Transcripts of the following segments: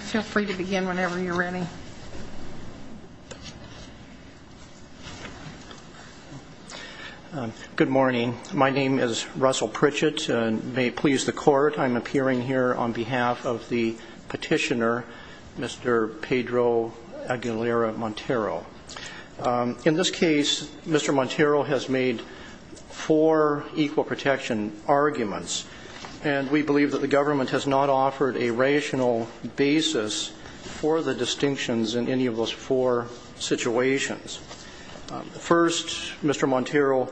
Feel free to begin whenever you're ready. Good morning. My name is Russell Pritchett and may it please the court, I'm appearing here on behalf of the petitioner, Mr. Pedro Aguilera-Montero. In this case, Mr. Montero has made four equal protection arguments and we believe that the government has not offered a rational basis for the distinctions in any of those four situations. First, Mr. Montero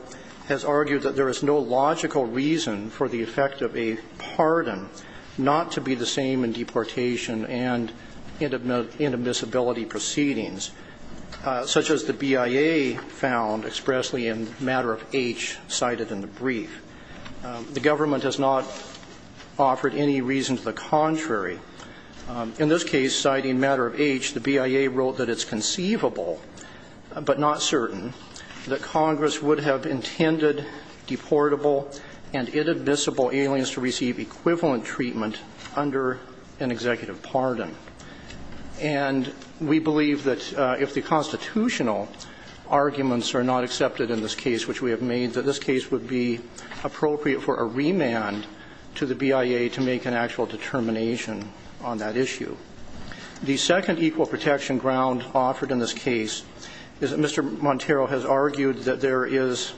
has argued that there is no logical reason for the effect of a pardon not to be the same in deportation and inadmissibility proceedings, such as the BIA found expressly in Matter of H cited in the brief. The government has not offered any reason to the contrary. In this case, citing Matter of H, the BIA wrote that it's conceivable, but not certain, that Congress would have intended deportable and inadmissible aliens to receive equivalent treatment under an executive pardon. And we believe that if the constitutional arguments are not accepted in this case, which we have made, that this case would be appropriate for a remand to the BIA to make an actual determination on that issue. The second equal protection ground offered in this case is that Mr. Montero has argued that there is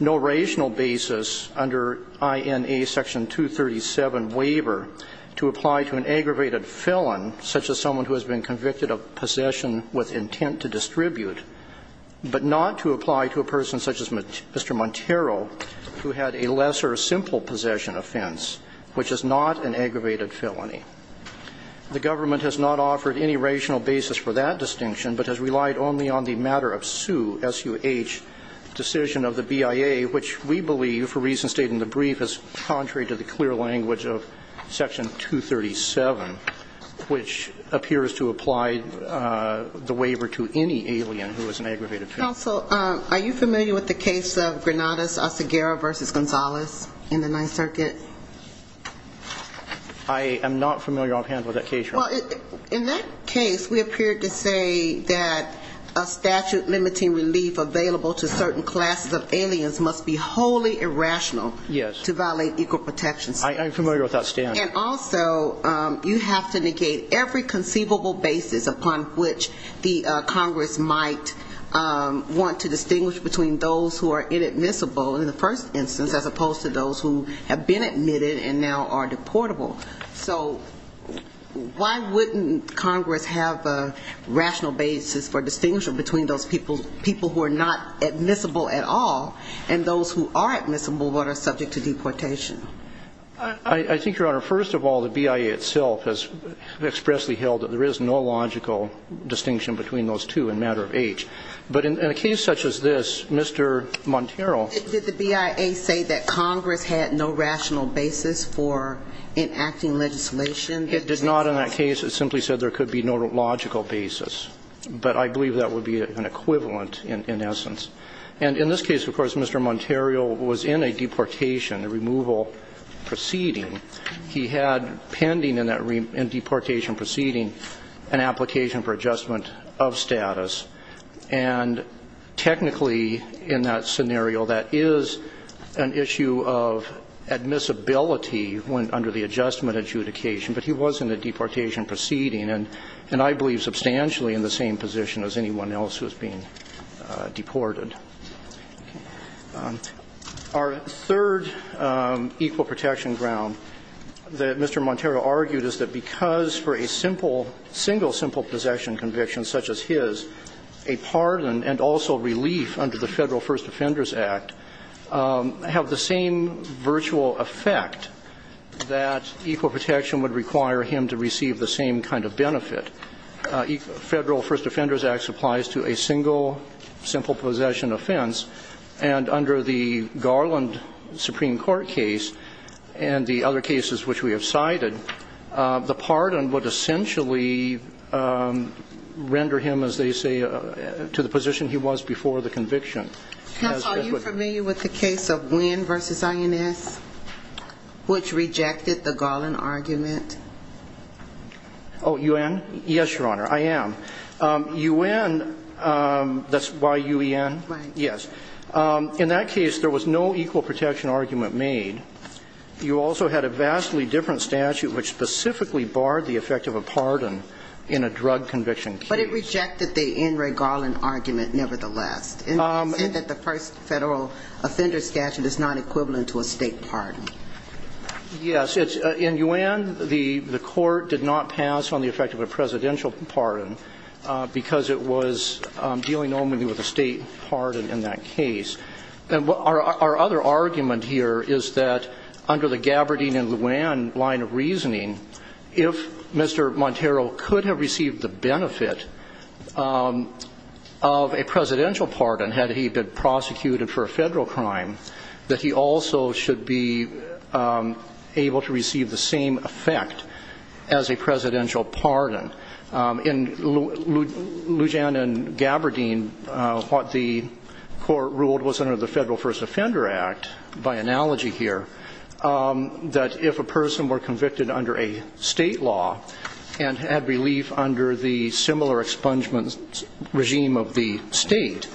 no rational basis under INA Section 237 waiver to apply to an aggravated felon, such as someone who has been convicted of possession with intent to distribute, but not to apply to a person such as Mr. Montero, who had a lesser simple possession offense, which is not an aggravated felony. The government has not offered any rational basis for that distinction, but has relied only on the Matter of Suh, S-U-H, decision of the BIA, which we believe, for reasons stated in the brief, is contrary to the clear language of Section 237, which appears to apply the waiver to any alien who is an aggravated felon. Counsel, are you familiar with the case of Granada-Segura v. Gonzalez in the Ninth Circuit? I am not familiar offhand with that case, Your Honor. Well, in that case, we appeared to say that a statute limiting relief available to certain classes of aliens must be wholly irrational to violate equal protection standards. I am familiar with that stand. And also, you have to negate every conceivable basis upon which the Congress might want to distinguish between those who are inadmissible, in the first instance, as opposed to those who have been admitted and now are deportable. So why wouldn't Congress have a rational basis for distinguishing between those people who are not admissible at all and those who are admissible but are subject to deportation? I think, Your Honor, first of all, the BIA itself has expressly held that there is no logical distinction between those two in matter of age. But in a case such as this, Mr. Montero ---- Did the BIA say that Congress had no rational basis for enacting legislation? It did not in that case. It simply said there could be no logical basis. But I believe that would be an equivalent, in essence. And in this case, of course, Mr. Montero was in a deportation, a removal proceeding. He had pending in that deportation proceeding an application for adjustment of status. And technically, in that scenario, that is an issue of admissibility under the adjustment adjudication. But he was in a deportation proceeding and I believe substantially in the same position as anyone else who is being deported. Our third equal protection ground that Mr. Montero argued is that because for a simple, single simple possession conviction such as his, a pardon and also relief under the Federal First Offenders Act have the same virtual effect that equal protection would require him to receive the same kind of benefit. Federal First Offenders Act applies to a single, simple possession offense. And under the Garland Supreme Court case and the other cases which we have cited, the pardon would essentially render him, as they say, to the position he was before the conviction. Counsel, are you familiar with the case of Nguyen v. INS, which rejected the Garland argument? Oh, Nguyen? Yes, Your Honor. I am. Nguyen, that's Y-U-E-N? Right. Yes. In that case, there was no equal protection argument made. You also had a vastly different statute which specifically barred the effect of a pardon in a drug conviction case. But it rejected the N. Ray Garland argument nevertheless. It said that the first Federal offender statute is not equivalent to a state pardon. Yes. In Nguyen, the court did not pass on the effect of a presidential pardon because it was dealing only with a state pardon in that case. Our other argument here is that under the Gabbardine and Nguyen line of reasoning, if Mr. Montero could have received the benefit of a presidential pardon had he been prosecuted for a federal crime, that he also should be able to receive the same effect as a presidential pardon. In Lujan and Gabbardine, what the court ruled was under the Federal First Offender Act, by analogy here, that if a person were convicted under a state law and had relief under the similar expungement regime of the state,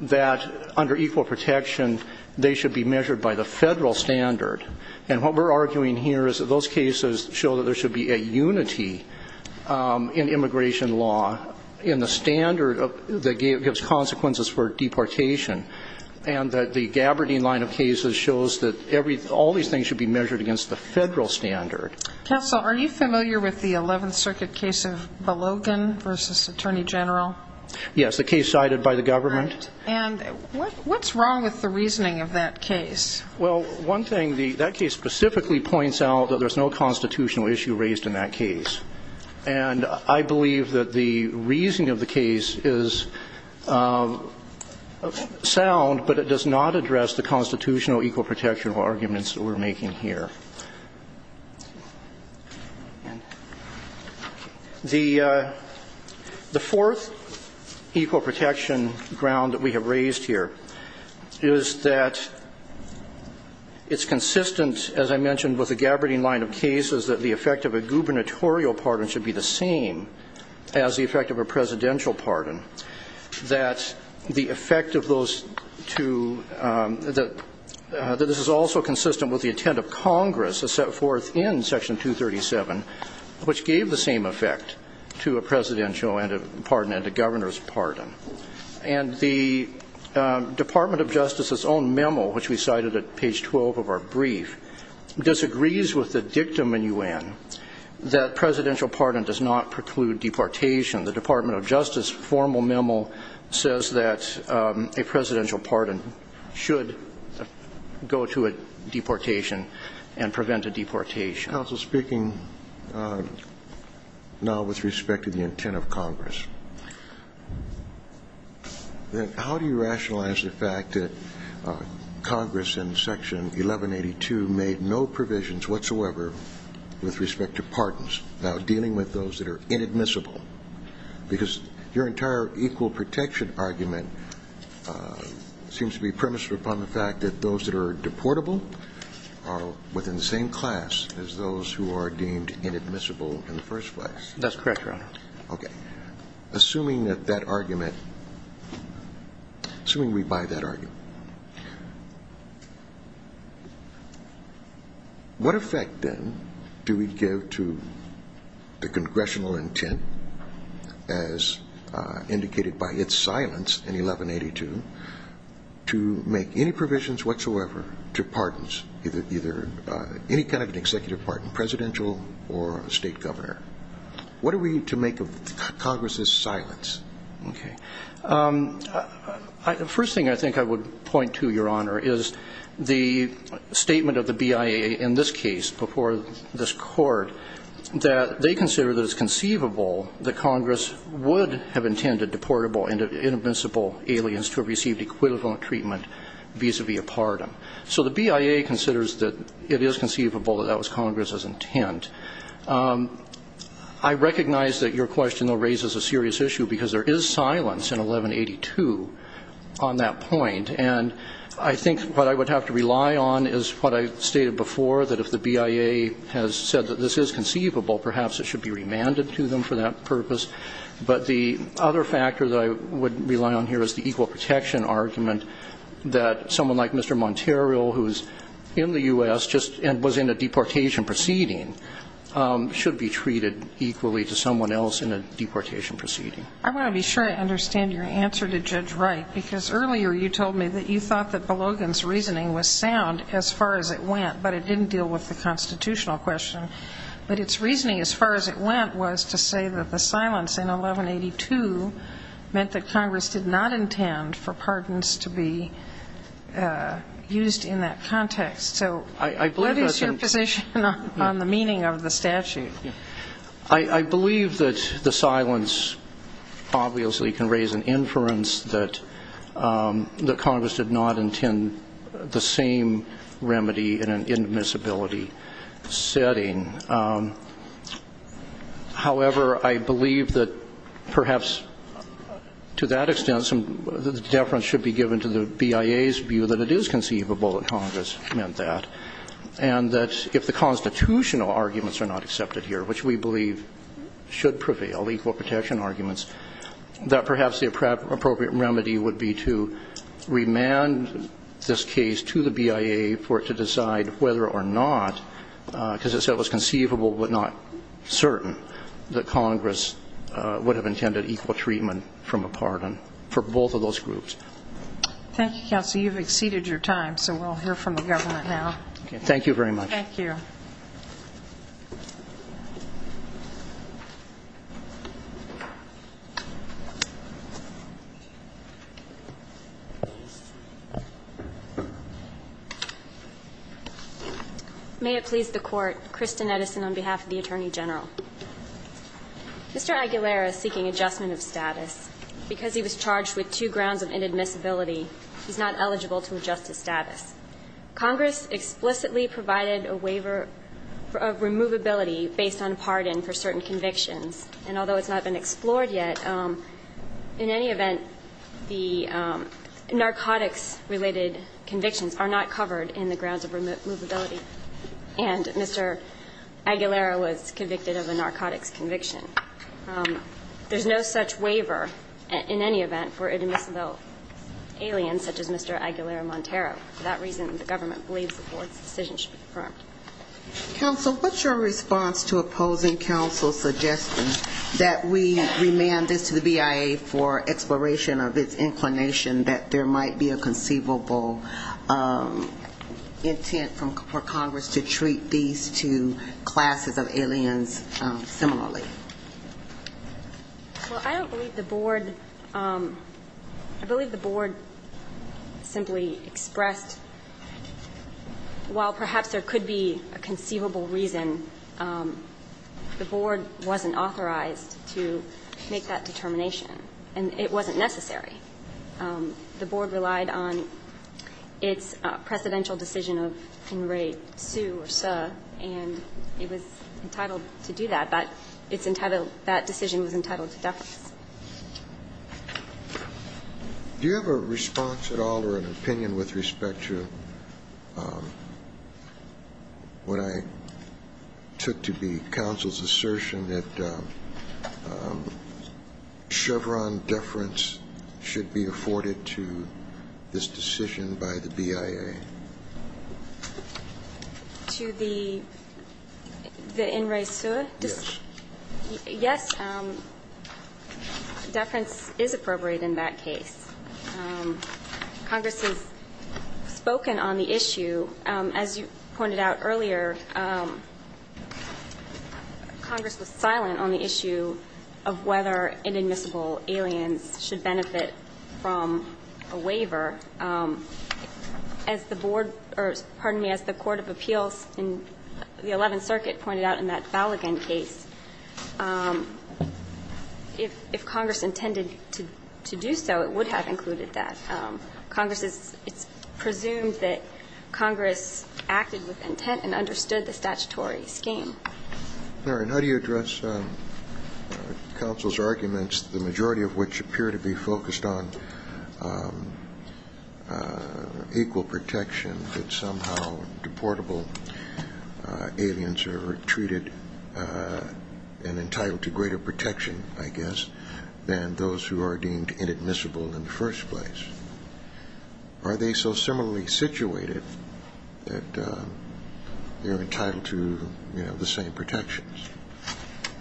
that under equal protection they should be measured by the Federal standard. And what we're arguing here is that those cases show that there should be a unity in immigration law in the standard that gives consequences for deportation, and that the Gabbardine line of cases shows that all these things should be measured against the Federal standard. Counsel, are you familiar with the Eleventh Circuit case of Belogan v. Attorney General? Yes, the case cited by the government. And what's wrong with the reasoning of that case? Well, one thing, that case specifically points out that there's no constitutional issue raised in that case. And I believe that the reasoning of the case is sound, but it does not address the constitutional equal protection arguments that we're making here. The fourth equal protection ground that we have raised here is that it's consistent, as I mentioned, with the Gabbardine line of cases that the effect of a gubernatorial pardon should be the same as the effect of a presidential pardon. That the effect of those two, that this is also consistent with the intent of Congress as set forth in Section 237, which gave the same effect to a presidential pardon and a governor's pardon. And the Department of Justice's own memo, which we cited at page 12 of our brief, disagrees with the dictum in U.N. that presidential pardon does not preclude deportation. The Department of Justice formal memo says that a presidential pardon should go to a deportation and prevent a deportation. Counsel speaking now with respect to the intent of Congress, how do you rationalize the fact that Congress in Section 1182 made no provisions whatsoever with respect to pardons? Now, dealing with those that are inadmissible, because your entire equal protection argument seems to be premised upon the fact that those that are deportable are within the same class as those who are deemed inadmissible in the first place. That's correct, Your Honor. Okay. Assuming that that argument, assuming we buy that argument, what effect then do we give to the congressional intent, as indicated by its silence in 1182, to make any provisions whatsoever to pardons, either any kind of an executive pardon, presidential or state governor? What are we to make of Congress's silence? Okay. The first thing I think I would point to, Your Honor, is the statement of the BIA in this case before this court that they consider that it's conceivable that Congress would have intended deportable and inadmissible aliens to have received equivalent treatment vis-à-vis a pardon. So the BIA considers that it is conceivable that that was Congress's intent. I recognize that your question, though, raises a serious issue, because there is silence in 1182 on that point. And I think what I would have to rely on is what I stated before, that if the BIA has said that this is conceivable, perhaps it should be remanded to them for that purpose. But the other factor that I would rely on here is the equal protection argument that someone like Mr. Montero, who is in the U.S. and was in a deportation proceeding, should be treated equally to someone else in a deportation proceeding. I want to be sure I understand your answer to Judge Wright, because earlier you told me that you thought that Belogan's reasoning was sound as far as it went, but it didn't deal with the constitutional question. But its reasoning as far as it went was to say that the silence in 1182 meant that Congress did not intend for pardons to be used in that context. So what is your position on the meaning of the statute? I believe that the silence obviously can raise an inference that Congress did not intend the same remedy in an indemnizability setting. However, I believe that perhaps to that extent, the deference should be given to the BIA's view that it is conceivable that Congress meant that, and that if the constitutional arguments are not accepted here, which we believe should prevail, equal protection arguments, that perhaps the appropriate remedy would be to remand this case to the BIA for it to decide whether or not, because it said it was conceivable but not certain, that Congress would have intended equal treatment from a pardon for both of those groups. Thank you, Counsel. You've exceeded your time, so we'll hear from the government now. Thank you. May it please the Court. Kristen Edison on behalf of the Attorney General. Mr. Aguilera is seeking adjustment of status. Because he was charged with two grounds of inadmissibility, he's not eligible to adjust his status. Congress explicitly provided a waiver of removability based on a pardon for certain convictions. And although it's not been explored yet, in any event, the narcotics-related convictions are not covered in the grounds of removability. And Mr. Aguilera was convicted of a narcotics conviction. There's no such waiver in any event for inadmissible aliens such as Mr. Aguilera Montero. For that reason, the government believes the Board's decision should be confirmed. Counsel, what's your response to opposing counsel's suggestion that we remand this to the BIA for exploration of its inclination that there might be a conceivable intent for Congress to treat these two classes of aliens similarly? Well, I don't believe the Board – I believe the Board simply expressed, while perhaps there could be a conceivable reason, the Board wasn't authorized to make that determination, and it wasn't necessary. The Board relied on its precedential decision of in re su or su, and it was entitled to do that. But it's entitled – that decision was entitled to deference. Do you have a response at all or an opinion with respect to what I took to be counsel's assertion that Chevron deference should be afforded to this decision by the BIA? To the in re su? Yes, deference is appropriate in that case. Congress has spoken on the issue. As you pointed out earlier, Congress was silent on the issue of whether inadmissible aliens should benefit from a waiver. As the Board – or, pardon me, as the Court of Appeals in the Eleventh Circuit pointed out in that Falligan case, if Congress intended to do so, it would have included that. Congress is – it's presumed that Congress acted with intent and understood the statutory scheme. All right. How do you address counsel's arguments, the majority of which appear to be focused on equal protection, that somehow deportable aliens are treated and entitled to greater protection, I guess, than those who are deemed inadmissible in the first place? Are they so similarly situated that they're entitled to, you know, the same protections?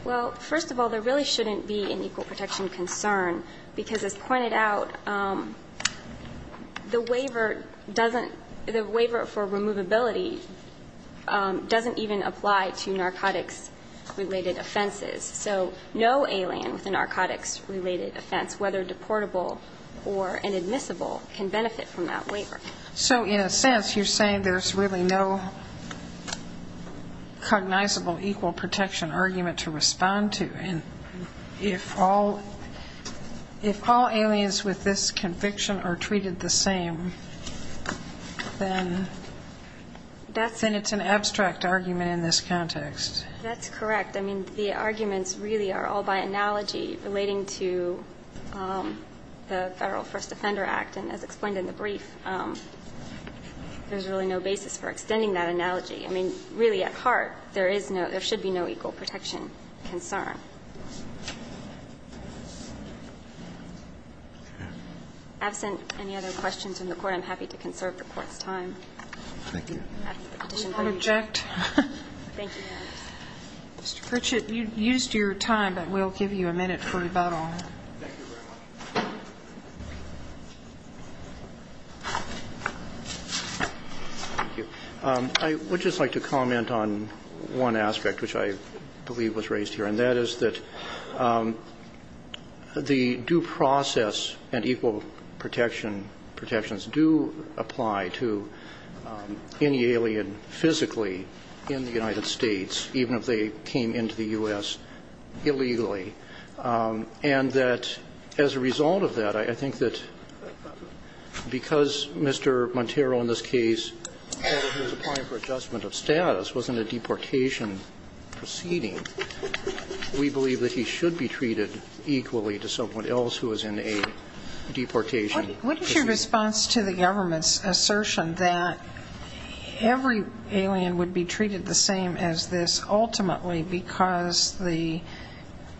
Well, first of all, there really shouldn't be an equal protection concern, because as pointed out, the waiver doesn't – the waiver for removability doesn't even apply to narcotics-related offenses. So no alien with a narcotics-related offense, whether deportable or inadmissible, can benefit from that waiver. So in a sense, you're saying there's really no cognizable equal protection argument to respond to. And if all aliens with this conviction are treated the same, then it's an abstract argument in this context. That's correct. I mean, the arguments really are all by analogy relating to the Federal First Offender Act, and as explained in the brief, there's really no basis for extending that analogy. I mean, really, at heart, there is no – there should be no equal protection concern. Absent any other questions from the Court, I'm happy to conserve the Court's time. Thank you. Mr. Pritchett, you used your time, but we'll give you a minute for rebuttal. Thank you very much. I would just like to comment on one aspect, which I believe was raised here, and that is that the due process and equal protection protections do apply to any alien physically in the United States, even if they came into the U.S. illegally. And that as a result of that, I think that because Mr. Monteiro in this case, who was applying for adjustment of status, was in a deportation proceeding, we believe that he should be treated equally to someone else who was in a deportation proceeding. What is your response to the government's assertion that every alien would be treated the same as this, ultimately because the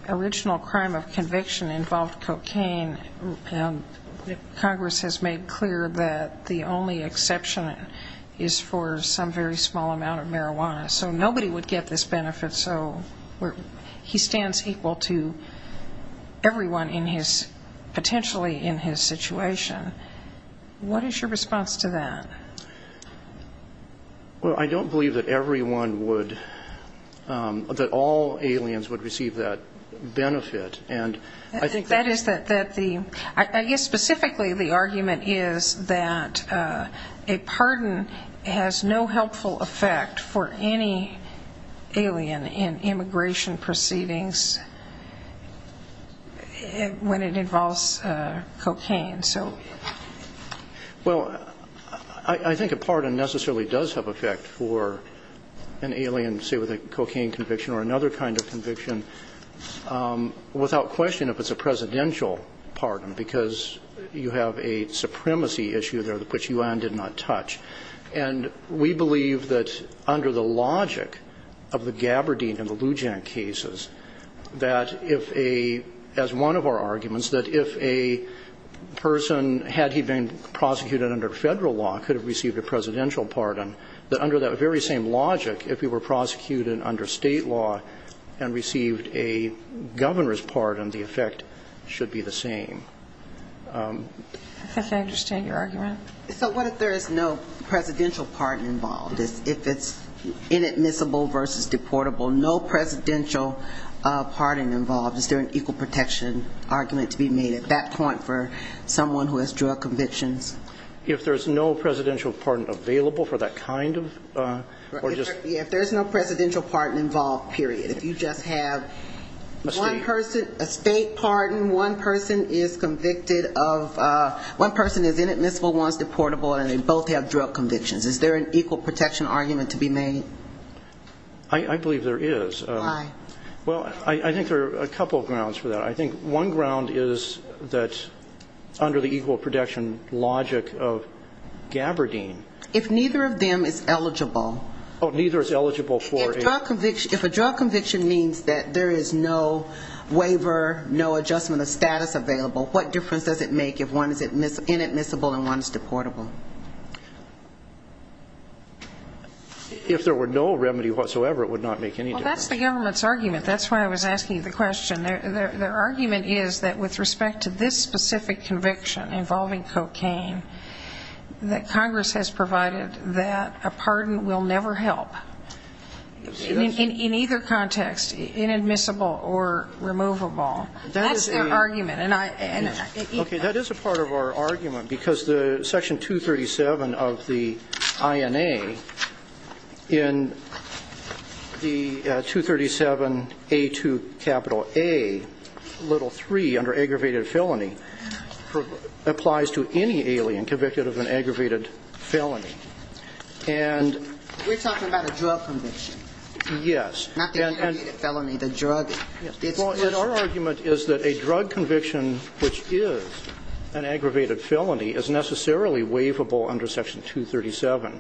original crime of conviction involved cocaine, and Congress has made clear that the only exception is for some very small amount of marijuana. So nobody would get this benefit, so he stands equal to everyone in his potentially in his situation. What is your response to that? Well, I don't believe that everyone would, that all aliens would receive that benefit. I think that is the, I guess specifically the argument is that a pardon has no helpful effect for any alien in immigration proceedings when it involves cocaine. Well, I think a pardon necessarily does have effect for an alien, say with a cocaine conviction or another kind of conviction, without question if it's a presidential pardon because you have a supremacy issue there which you did not touch. And we believe that under the logic of the Gabardine and the Lujan cases, that if a, as one of our arguments, that if a person, had he been prosecuted under Federal law, could have received a presidential pardon, that under that very same logic, if he were prosecuted under State law and received a Governor's pardon, the effect should be the same. I think I understand your argument. So what if there is no presidential pardon involved? If it's inadmissible versus deportable. No presidential pardon involved. Is there an equal protection argument to be made at that point for someone who has drug convictions? If there's no presidential pardon available for that kind of, or just? Yeah, if there's no presidential pardon involved, period. If you just have one person, a State pardon, one person is convicted of, one person is inadmissible, one is deportable, and they both have drug convictions, is there an equal protection argument to be made? I believe there is. Why? Well, I think there are a couple of grounds for that. I think one ground is that under the equal protection logic of Gabardine. If neither of them is eligible. Oh, neither is eligible for a? If a drug conviction means that there is no waiver, no adjustment of status available, what difference does it make if one is inadmissible and one is deportable? If there were no remedy whatsoever, it would not make any difference. Well, that's the government's argument. That's why I was asking you the question. Their argument is that with respect to this specific conviction involving cocaine, that Congress has provided that a pardon will never help in either context, inadmissible or removable. That's their argument. Okay. That is a part of our argument because the section 237 of the INA in the 237A2 capital A little 3 under aggravated felony applies to any alien convicted of an aggravated felony. We're talking about a drug conviction. Yes. Not the aggravated felony, the drug. Well, our argument is that a drug conviction, which is an aggravated felony, is necessarily waivable under section 237.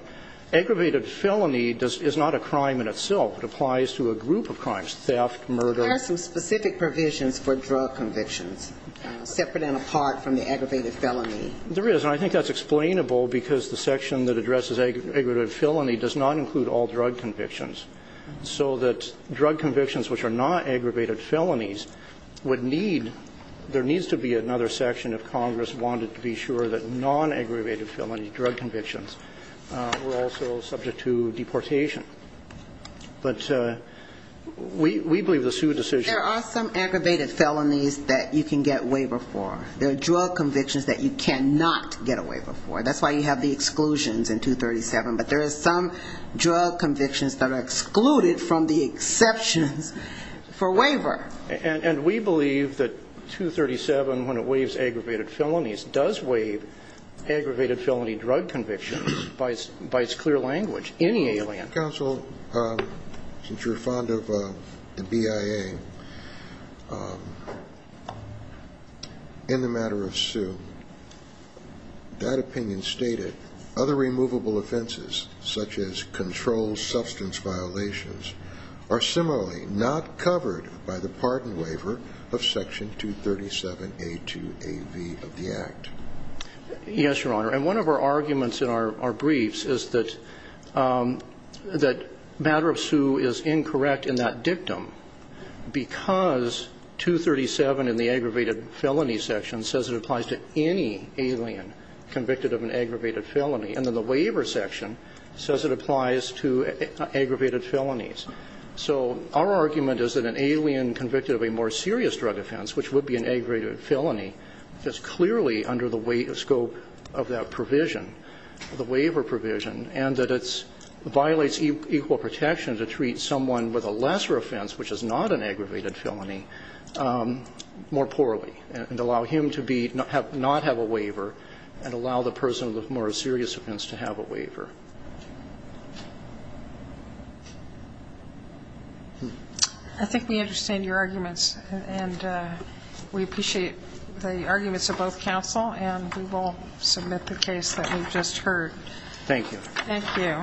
Aggravated felony is not a crime in itself. It applies to a group of crimes, theft, murder. There are some specific provisions for drug convictions separate and apart from the aggravated felony. There is. And I think that's explainable because the section that addresses aggravated felony does not include all drug convictions. So that drug convictions, which are not aggravated felonies, would need, there needs to be another section if Congress wanted to be sure that non-aggravated felony drug convictions were also subject to deportation. But we believe the sue decision. There are some aggravated felonies that you can get waiver for. There are drug convictions that you cannot get a waiver for. That's why you have the exclusions in 237. But there are some drug convictions that are excluded from the exceptions for waiver. And we believe that 237, when it waives aggravated felonies, does waive aggravated felony drug convictions by its clear language. Any alien. Counsel, since you're fond of the BIA, in the matter of sue, that opinion stated, other removable offenses, such as controlled substance violations, are similarly not covered by the pardon waiver of section 237A2AV of the Act. Yes, Your Honor. And one of our arguments in our briefs is that matter of sue is incorrect in that dictum because 237 in the aggravated felony section says it applies to any alien convicted of an aggravated felony. And then the waiver section says it applies to aggravated felonies. So our argument is that an alien convicted of a more serious drug offense, which would be an aggravated felony, is clearly under the scope of that provision, the waiver provision, and that it violates equal protection to treat someone with a lesser offense, which is not an aggravated felony, more poorly and allow him to not have a waiver and allow the person with a more serious offense to have a waiver. I think we understand your arguments, and we appreciate the arguments of both counsel, and we will submit the case that we've just heard. Thank you. Thank you.